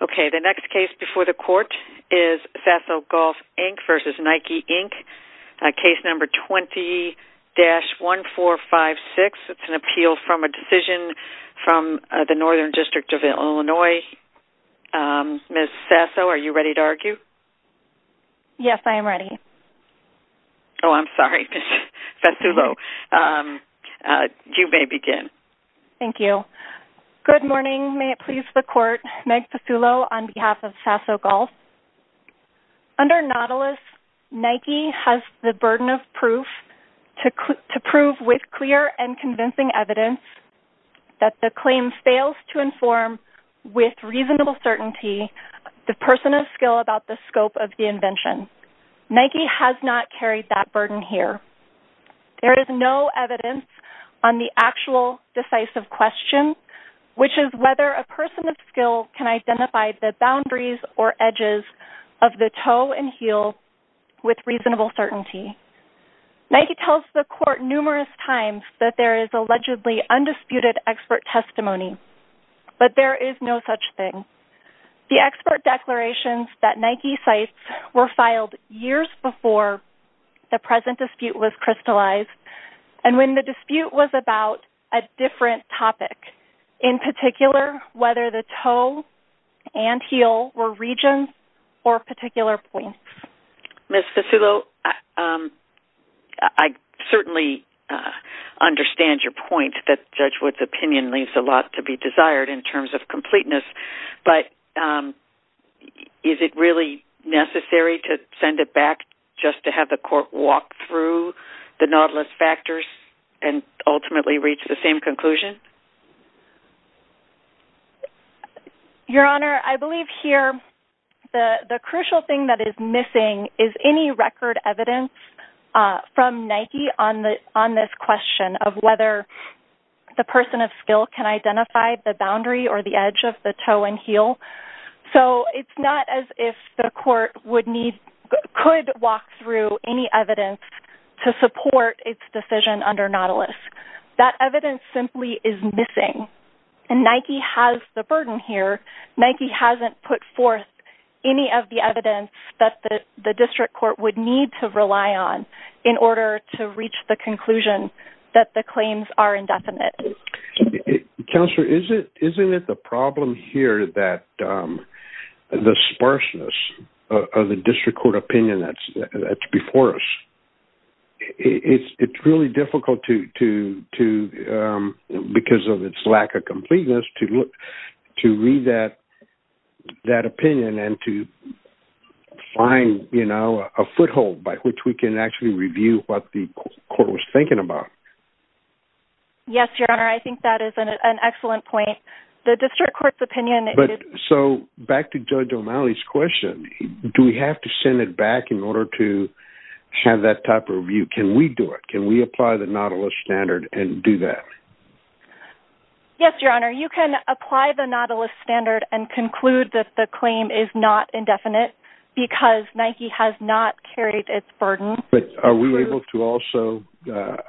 Okay, the next case before the court is Saso Golf, Inc. v. Nike, Inc. Case number 20-1456. It's an appeal from a decision from the Northern District of Illinois. Ms. Saso, are you ready to argue? Yes, I am ready. Oh, I'm sorry, Ms. Fasulo. You may begin. Thank you. Good morning. May it please the court. Meg Fasulo on behalf of Saso Golf. Under Nautilus, Nike has the burden of proof to prove with clear and convincing evidence that the claim fails to inform with reasonable certainty the person of skill about the scope of the invention. Nike has not carried that burden here. There is no evidence on the actual decisive question, which is whether a person of skill can identify the boundaries or edges of the toe and heel with reasonable certainty. Nike tells the court numerous times that there is allegedly undisputed expert testimony, but there is no such thing. The expert declarations that Nike cites were filed years before the present dispute was crystallized and when the dispute was about a different topic, in particular, whether the toe and heel were regions or particular points. Ms. Fasulo, I certainly understand your point that Judge Wood's opinion leaves a lot to be desired in terms of completeness, but is it really necessary to send it back just to have the court walk through the Nautilus factors and ultimately reach the same conclusion? Your Honor, I believe here the crucial thing that is missing is any record evidence from Nike on this question of whether the person of skill can identify the boundary or the edge of the toe and heel. So, it's not as if the court could walk through any evidence to support its decision under Nautilus. That evidence simply is missing and Nike has the burden here. Nike hasn't put forth any of the evidence that the district court would need to rely on in order to reach the conclusion that the claims are indefinite. Counselor, isn't it the problem here that the sparseness of the district court opinion that's before us? It's really difficult to, because of its lack of completeness, to read that opinion and to find, you know, a foothold by which we can actually review what the court was thinking about. Yes, Your Honor, I think that is an excellent point. The district court's opinion... But, so, back to Judge O'Malley's question, do we have to send it back in order to have that type of review? Can we do it? Can we apply the Nautilus standard and do that? Yes, Your Honor, you can apply the Nautilus standard and conclude that the claim is not indefinite, because Nike has not carried its burden. But, are we able to also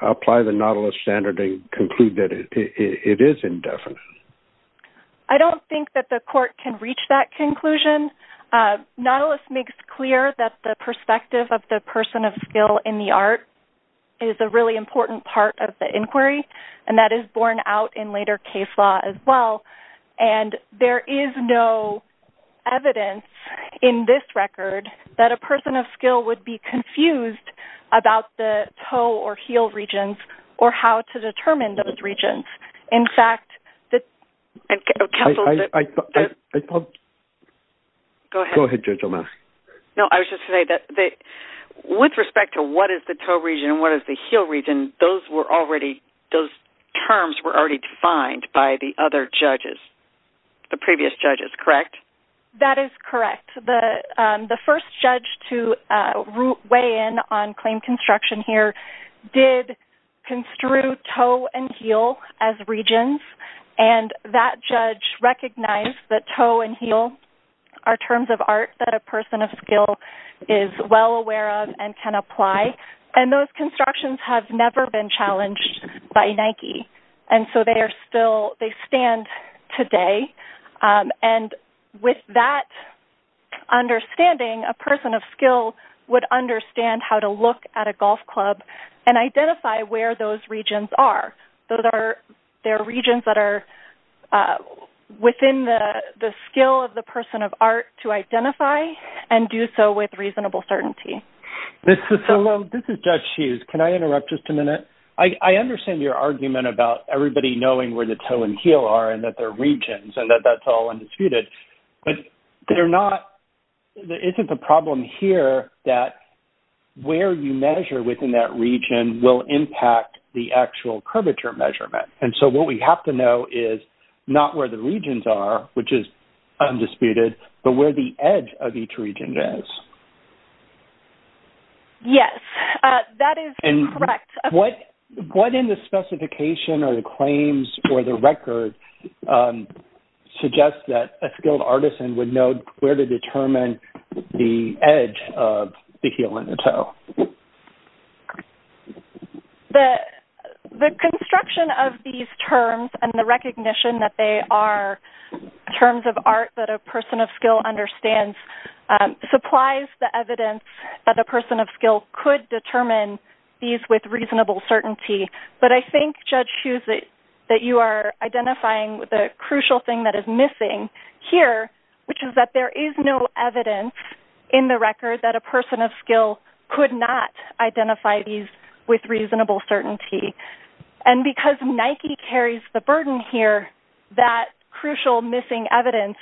apply the Nautilus standard and conclude that it is indefinite? I don't think that the court can reach that conclusion. Nautilus makes clear that the perspective of the person of skill in the art is a really important part of the inquiry, and that is borne out in later case law as well. And, there is no evidence in this record that a person of skill would be confused about the toe or heel regions, or how to determine those regions. In fact, the... Go ahead, Judge O'Malley. No, I was just going to say that with respect to what is the toe region and what is the heel region, those terms were already defined by the other judges, the previous judges, correct? That is correct. The first judge to weigh in on claim construction here did construe toe and heel as regions, and that judge recognized that toe and heel are terms of art that a person of skill is well aware of and can apply. And, those constructions have never been challenged by Nike, and so they stand today. And, with that understanding, a person of skill would understand how to look at a golf club and identify where those regions are. Those are regions that are within the skill of the person of art to identify and do so with reasonable certainty. This is Judge Hughes. Can I interrupt just a minute? I understand your argument about everybody knowing where the toe and heel are and that they're regions and that that's all undisputed. But, there isn't a problem here that where you measure within that region will impact the actual curvature measurement. And so, what we have to know is not where the regions are, which is undisputed, but where the edge of each region is. Yes, that is correct. And, what in the specification or the claims or the record suggests that a skilled artisan would know where to determine the edge of the heel and the toe? The construction of these terms and the recognition that they are terms of art that a person of skill understands supplies the evidence that a person of skill could determine these with reasonable certainty. But, I think, Judge Hughes, that you are identifying the crucial thing that is missing here, which is that there is no evidence in the record that a person of skill could not identify these with reasonable certainty. And, because Nike carries the burden here, that crucial missing evidence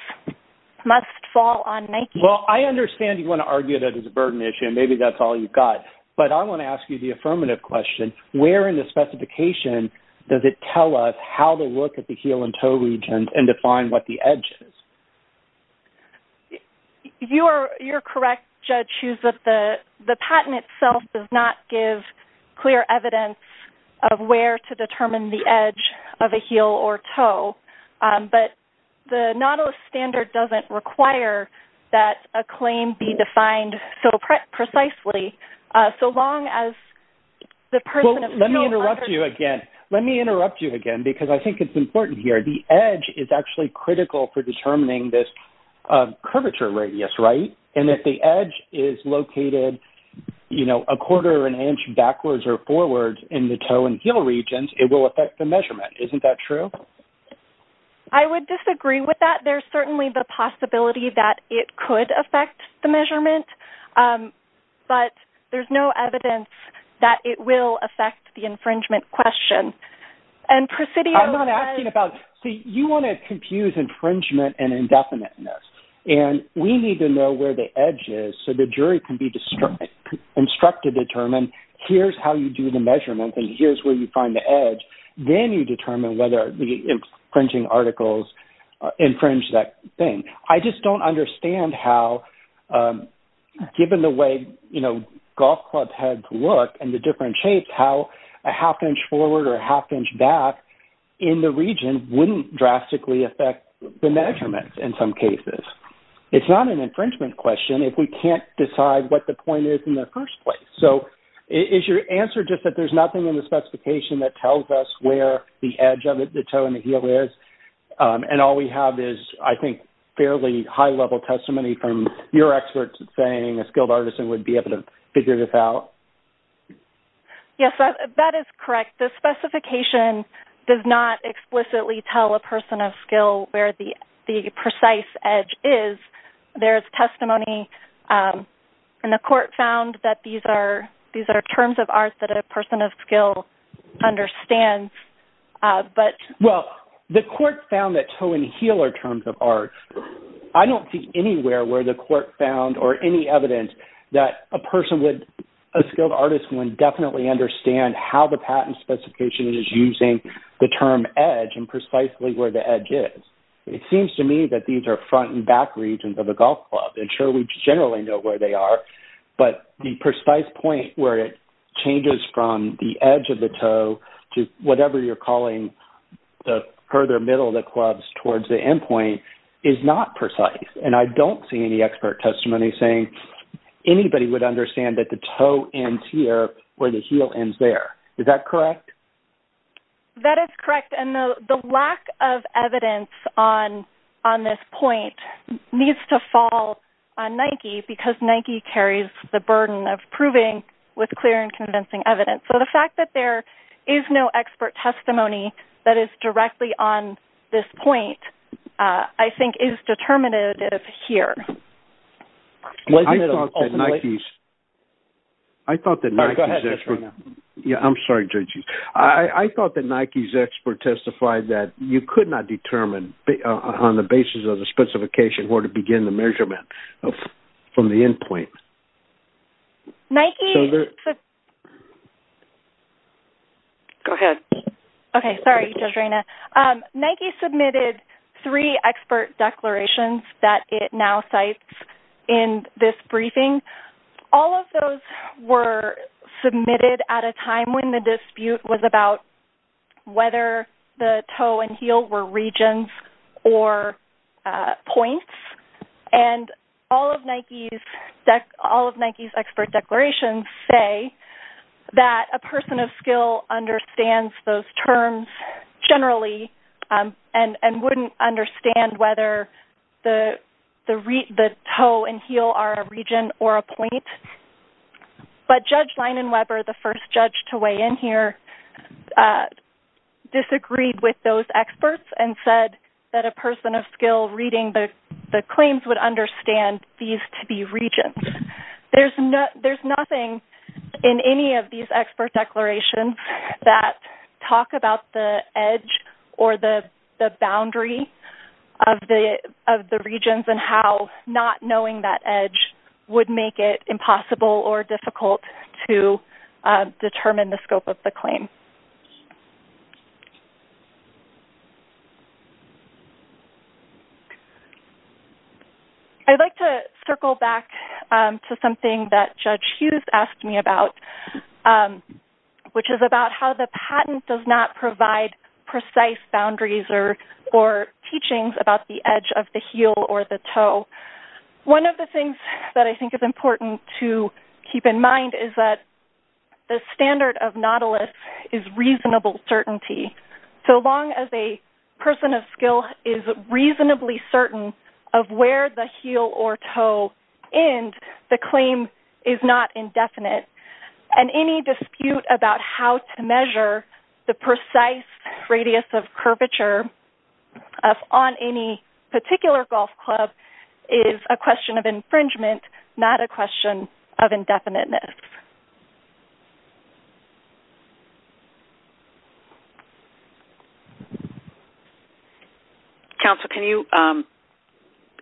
must fall on Nike. Well, I understand you want to argue that it's a burden issue and maybe that's all you've got. But, I want to ask you the affirmative question. Where in the specification does it tell us how to look at the heel and toe region and define what the edge is? You are correct, Judge Hughes, that the patent itself does not give clear evidence of where to determine the edge of a heel or toe. But, the Nautilus standard doesn't require that a claim be defined so precisely, so long as the person of skill understands... Well, let me interrupt you again. Let me interrupt you again because I think it's important here. The edge is actually critical for determining this curvature radius, right? And, if the edge is located, you know, a quarter of an inch backwards or forwards in the toe and heel regions, it will affect the measurement. Isn't that true? I would disagree with that. There's certainly the possibility that it could affect the measurement, but there's no evidence that it will affect the infringement question. And, Presidio... I'm not asking about... See, you want to confuse infringement and indefiniteness. And, we need to know where the edge is so the jury can be instructed to determine, here's how you do the measurement and here's where you find the edge. Then, you determine whether the infringing articles infringe that thing. I just don't understand how, given the way, you know, golf clubs had to look and the different shapes, how a half inch forward or a half inch back in the region wouldn't drastically affect the measurement in some cases. It's not an infringement question if we can't decide what the point is in the first place. So, is your answer just that there's nothing in the specification that tells us where the edge of the toe and the heel is? And, all we have is, I think, fairly high-level testimony from your experts saying a skilled artisan would be able to figure this out? Yes, that is correct. The specification does not explicitly tell a person of skill where the precise edge is. There is testimony in the court found that these are terms of arts that a person of skill understands. Well, the court found that toe and heel are terms of arts. I don't see anywhere where the court found or any evidence that a person would, a skilled artist would definitely understand how the patent specification is using the term edge and precisely where the edge is. It seems to me that these are front and back regions of a golf club. And, sure, we generally know where they are, but the precise point where it changes from the edge of the toe to whatever you're calling the further middle of the clubs towards the end point is not precise. And, I don't see any expert testimony saying anybody would understand that the toe ends here where the heel ends there. Is that correct? That is correct. And the lack of evidence on this point needs to fall on Nike because Nike carries the burden of proving with clear and convincing evidence. So, the fact that there is no expert testimony that is directly on this point, I think, is determinative here. I thought that Nike's expert testified that you could not determine on the basis of the specification where to begin the measurement from the end point. Go ahead. Okay. Sorry, Judge Reyna. Nike submitted three expert declarations that it now cites in this briefing. All of those were submitted at a time when the dispute was about whether the toe and heel were regions or points. And all of Nike's expert declarations say that a person of skill understands those terms generally and wouldn't understand whether the toe and heel are a region or a point. But, Judge Leinenweber, the first judge to weigh in here, disagreed with those experts and said that a person of skill reading the claims would understand these to be regions. There's nothing in any of these expert declarations that talk about the edge or the boundary of the regions and how not knowing that edge would make it impossible or difficult to determine the scope of the claim. I'd like to circle back to something that Judge Hughes asked me about, which is about how the patent does not provide precise boundaries or teachings about the edge of the heel or the toe. One of the things that I think is important to keep in mind is that the standard of Nautilus is reasonable certainty. So long as a person of skill is reasonably certain of where the heel or toe end, the claim is not indefinite. And any dispute about how to measure the precise radius of curvature on any particular golf club is a question of infringement, not a question of indefiniteness. Thank you, Judge Leinenweber. Counsel, can you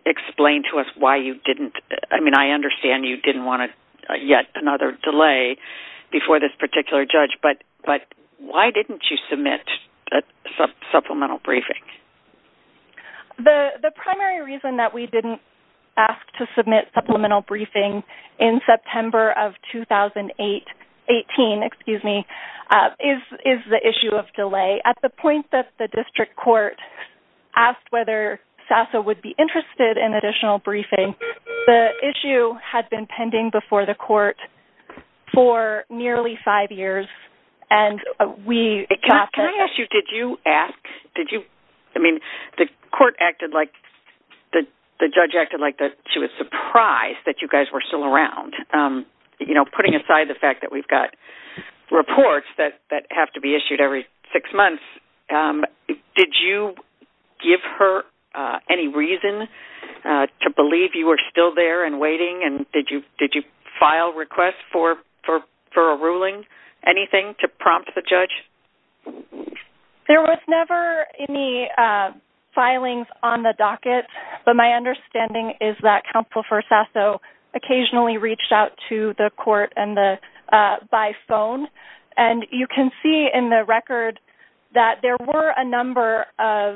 explain to us why you didn't... I mean, I understand you didn't want yet another delay before this particular judge, but why didn't you submit a supplemental briefing? The primary reason that we didn't ask to submit supplemental briefing in September of 2018 is the issue of delay. At the point that the district court asked whether SASA would be interested in additional briefing, the issue had been pending before the court for nearly five years. Can I ask you, did you ask? Did you... I mean, the court acted like... the judge acted like she was surprised that you guys were still around. You know, putting aside the fact that we've got reports that have to be issued every six months, did you give her any reason to believe you were still there and waiting? And did you file requests for a ruling? Anything to prompt the judge? There was never any filings on the docket, but my understanding is that Counsel for SASA occasionally reached out to the court by phone. And you can see in the record that there were a number of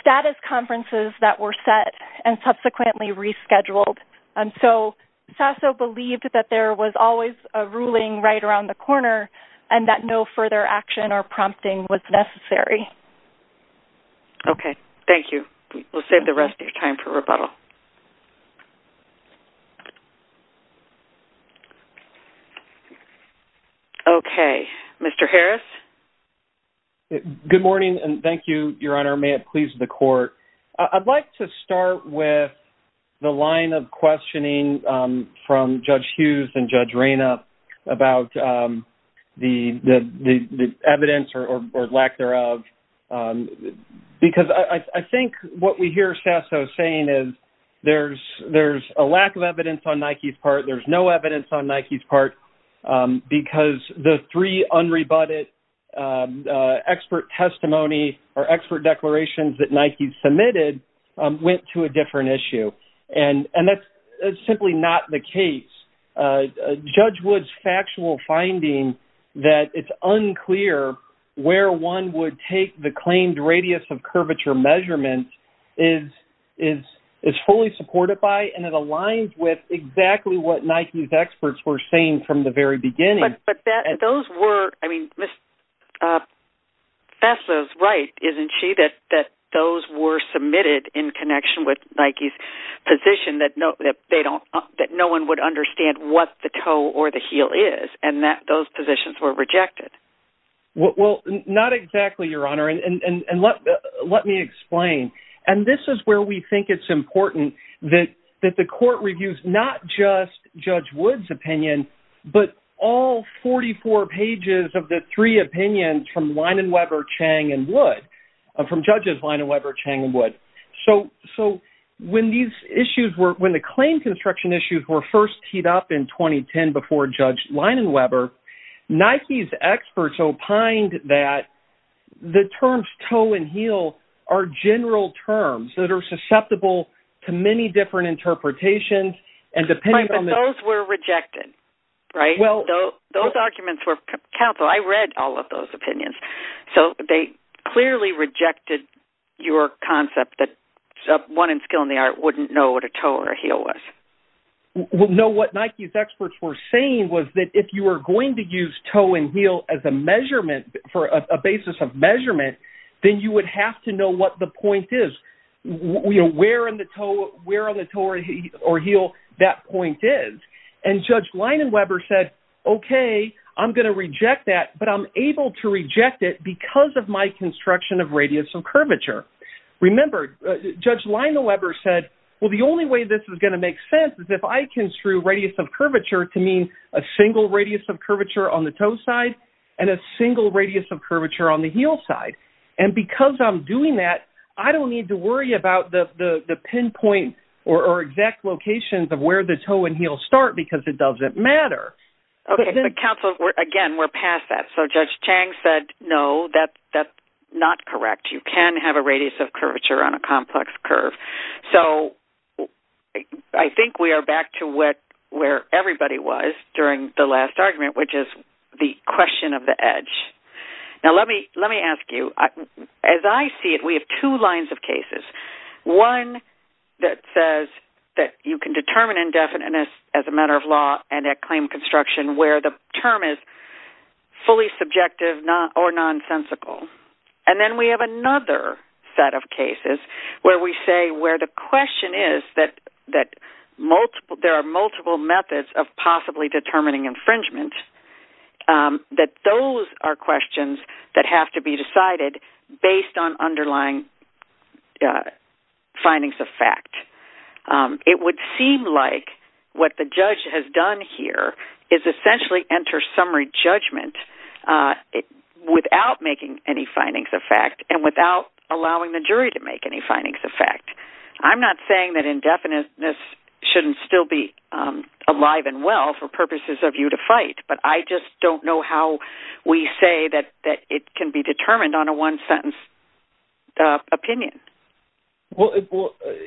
status conferences that were set and subsequently rescheduled. And so, SASA believed that there was always a ruling right around the corner and that no further action or prompting was necessary. Okay. Thank you. We'll save the rest of your time for rebuttal. Okay. Mr. Harris? Good morning and thank you, Your Honor. May it please the court. I'd like to start with the line of questioning from Judge Hughes and Judge Reynup about the evidence or lack thereof. Because I think what we hear SASA saying is there's a lack of evidence on Nike's part. There's no evidence on Nike's part because the three unrebutted expert testimony or expert declarations that Nike submitted went to a different issue. And that's simply not the case. Judge Wood's factual finding that it's unclear where one would take the claimed radius of curvature measurement is fully supported by and it aligns with exactly what Nike's experts were saying from the very beginning. But those were, I mean, SASA's right, isn't she? That those were submitted in connection with Nike's position that no one would understand what the toe or the heel is and that those positions were rejected. Well, not exactly, Your Honor. And let me explain. And this is where we think it's important that the court reviews not just Judge Wood's opinion, but all 44 pages of the three opinions from Linenweber, Chang, and Wood, from Judges Linenweber, Chang, and Wood. So when these issues were, when the claim construction issues were first teed up in 2010 before Judge Linenweber, Nike's experts opined that the terms toe and heel are general terms that are susceptible to many different interpretations. Right, but those were rejected, right? Those arguments were, counsel, I read all of those opinions. So they clearly rejected your concept that one in skill in the art wouldn't know what a toe or a heel was. No, what Nike's experts were saying was that if you were going to use toe and heel as a measurement, for a basis of measurement, then you would have to know what the point is. Where on the toe or heel that point is. And Judge Linenweber said, okay, I'm going to reject that, but I'm able to reject it because of my construction of radius of curvature. Remember, Judge Linenweber said, well, the only way this is going to make sense is if I construe radius of curvature to mean a single radius of curvature on the toe side and a single radius of curvature on the heel side. And because I'm doing that, I don't need to worry about the pinpoint or exact locations of where the toe and heel start because it doesn't matter. Okay, but counsel, again, we're past that. So Judge Chang said, no, that's not correct. You can have a radius of curvature on a complex curve. So I think we are back to where everybody was during the last argument, which is the question of the edge. Now, let me ask you, as I see it, we have two lines of cases. One that says that you can determine indefiniteness as a matter of law and at claim construction where the term is fully subjective or nonsensical. And then we have another set of cases where we say where the question is that there are multiple methods of possibly determining infringement, that those are questions that have to be decided based on underlying findings of fact. It would seem like what the judge has done here is essentially enter summary judgment without making any findings of fact and without allowing the jury to make any findings of fact. I'm not saying that indefiniteness shouldn't still be alive and well for purposes of you to fight, but I just don't know how we say that it can be determined on a one-sentence opinion. Well,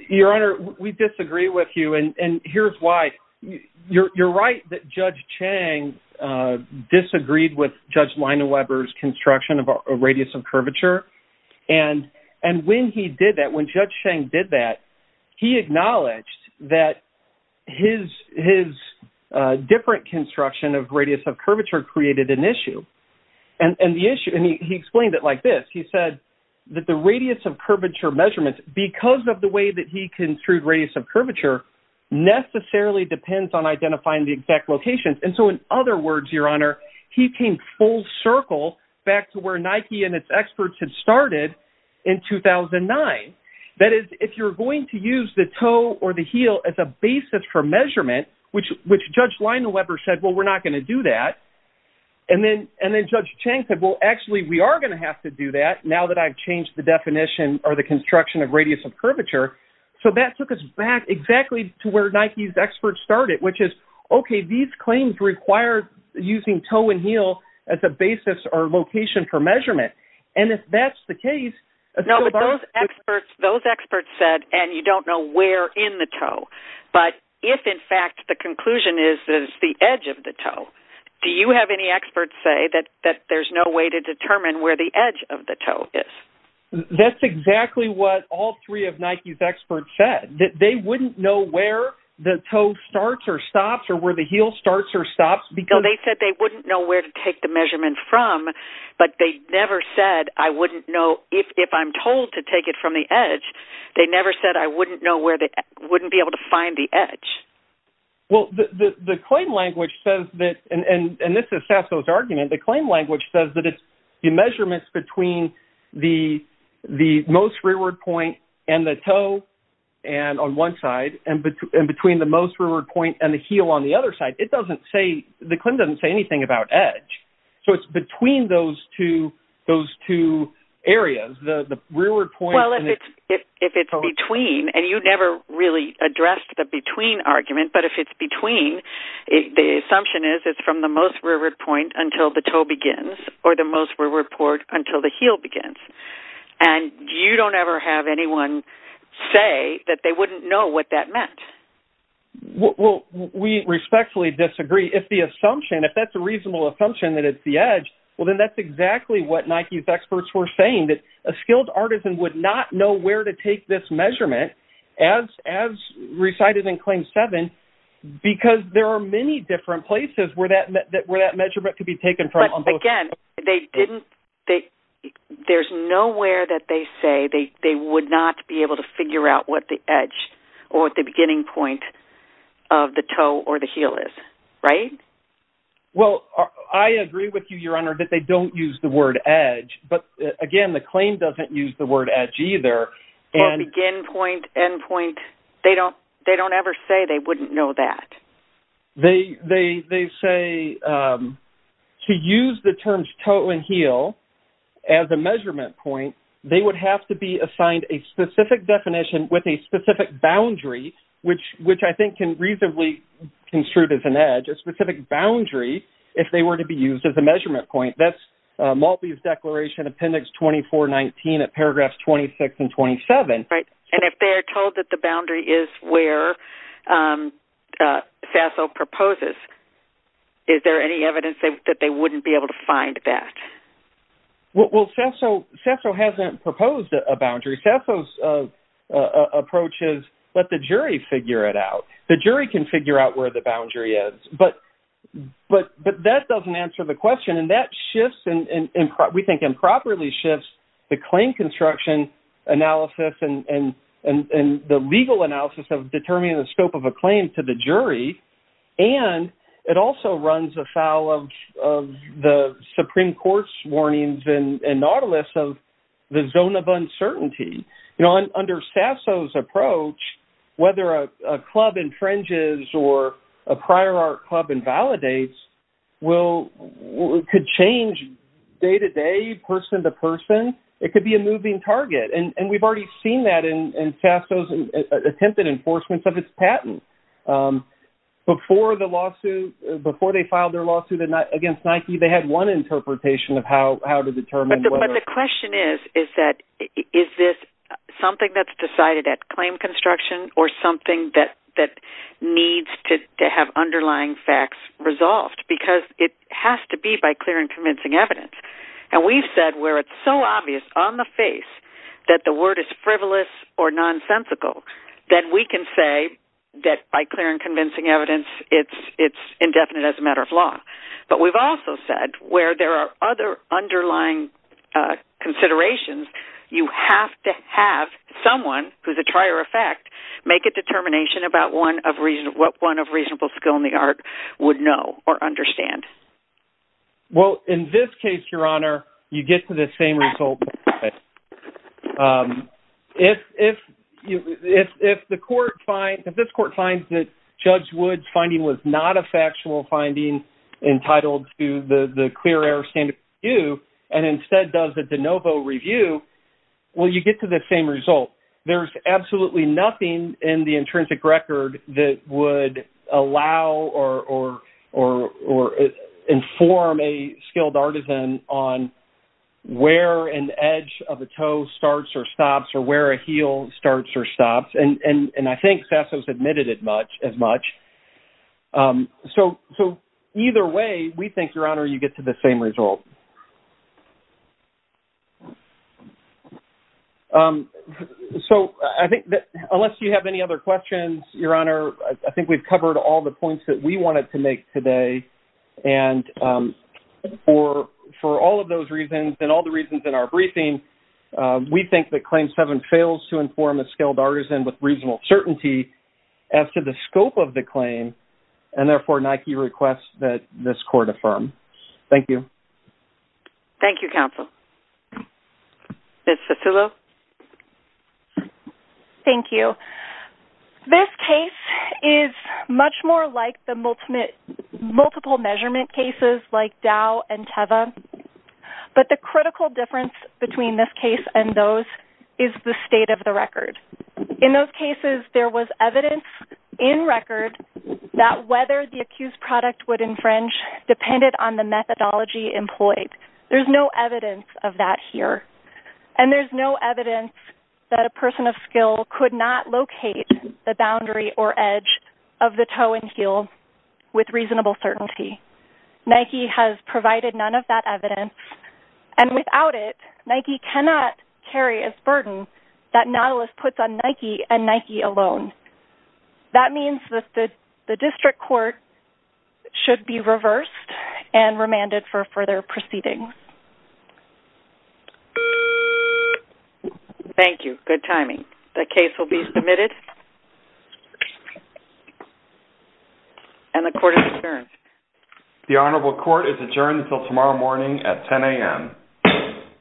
Your Honor, we disagree with you, and here's why. You're right that Judge Chang disagreed with Judge Leina Weber's construction of a radius of curvature. And when he did that, when Judge Chang did that, he acknowledged that his different construction of radius of curvature created an issue. And he explained it like this. He said that the radius of curvature measurement, because of the way that he construed radius of curvature, necessarily depends on identifying the exact locations. And so in other words, Your Honor, he came full circle back to where Nike and its experts had started in 2009. That is, if you're going to use the toe or the heel as a basis for measurement, which Judge Leina Weber said, well, we're not going to do that. And then Judge Chang said, well, actually, we are going to have to do that, now that I've changed the definition or the construction of radius of curvature. So that took us back exactly to where Nike's experts started, which is, okay, these claims require using toe and heel as a basis or location for measurement. And if that's the case… No, but those experts said, and you don't know where in the toe. But if, in fact, the conclusion is that it's the edge of the toe, do you have any experts say that there's no way to determine where the edge of the toe is? That's exactly what all three of Nike's experts said. They wouldn't know where the toe starts or stops or where the heel starts or stops because… Well, the claim language says that, and this is Sasso's argument, the claim language says that it's the measurements between the most rearward point and the toe on one side and between the most rearward point and the heel on the other side. It doesn't say, the claim doesn't say anything about edge. So it's between those two areas, the rearward point… Well, if it's between, and you never really addressed the between argument, but if it's between, the assumption is it's from the most rearward point until the toe begins or the most rearward point until the heel begins. And you don't ever have anyone say that they wouldn't know what that meant. Well, we respectfully disagree. If the assumption, if that's a reasonable assumption that it's the edge, well then that's exactly what Nike's experts were saying, that a skilled artisan would not know where to take this measurement as recited in Claim 7 because there are many different places where that measurement could be taken from. Again, they didn't, there's nowhere that they say they would not be able to figure out what the edge or what the beginning point of the toe or the heel is, right? Well, I agree with you, Your Honor, that they don't use the word edge, but again, the claim doesn't use the word edge either. Well, begin point, end point, they don't ever say they wouldn't know that. They say to use the terms toe and heel as a measurement point, they would have to be assigned a specific definition with a specific boundary, which I think can reasonably be construed as an edge, a specific boundary if they were to be used as a measurement point. That's Maltby's Declaration Appendix 2419 at paragraphs 26 and 27. Right, and if they're told that the boundary is where Sasso proposes, is there any evidence that they wouldn't be able to find that? Well, Sasso hasn't proposed a boundary. Sasso's approach is let the jury figure it out. The jury can figure out where the boundary is, but that doesn't answer the question, and that shifts and we think improperly shifts the claim construction analysis and the legal analysis of determining the scope of a claim to the jury, and it also runs afoul of the Supreme Court's warnings and nautilus of the zone of uncertainty. You know, under Sasso's approach, whether a club infringes or a prior art club invalidates could change day-to-day, person-to-person. It could be a moving target, and we've already seen that in Sasso's attempted enforcements of his patent. Before the lawsuit, before they filed their lawsuit against Nike, they had one interpretation of how to determine whether… …it's something that's decided at claim construction or something that needs to have underlying facts resolved, because it has to be by clear and convincing evidence. And we've said where it's so obvious on the face that the word is frivolous or nonsensical, then we can say that by clear and convincing evidence, it's indefinite as a matter of law. But we've also said where there are other underlying considerations, you have to have someone who's a trier of fact make a determination about what one of reasonable skill in the art would know or understand. Well, in this case, Your Honor, you get to the same result. If the court finds…if this court finds that Judge Wood's finding was not a factual finding entitled to the clear air standard review, and instead does a de novo review, well, you get to the same result. There's absolutely nothing in the intrinsic record that would allow or inform a skilled artisan on where an edge of a toe starts or stops or where a heel starts or stops. And I think Sesso's admitted it as much. So either way, we think, Your Honor, you get to the same result. So I think that unless you have any other questions, Your Honor, I think we've covered all the points that we wanted to make today. And for all of those reasons and all the reasons in our briefing, we think that Claim 7 fails to inform a skilled artisan with reasonable certainty as to the scope of the claim, and therefore Nike requests that this court affirm. Thank you. Thank you, Counsel. Ms. Cicillo? Thank you. This case is much more like the multiple measurement cases like Dow and Teva, but the critical difference between this case and those is the state of the record. In those cases, there was evidence in record that whether the accused product would infringe depended on the methodology employed. There's no evidence of that here, and there's no evidence that a person of skill could not locate the boundary or edge of the toe and heel with reasonable certainty. Nike has provided none of that evidence, and without it, Nike cannot carry a burden that Nautilus puts on Nike and Nike alone. That means that the district court should be reversed and remanded for further proceedings. Thank you. Good timing. The case will be submitted, and the court is adjourned. The Honorable Court is adjourned until tomorrow morning at 10 a.m.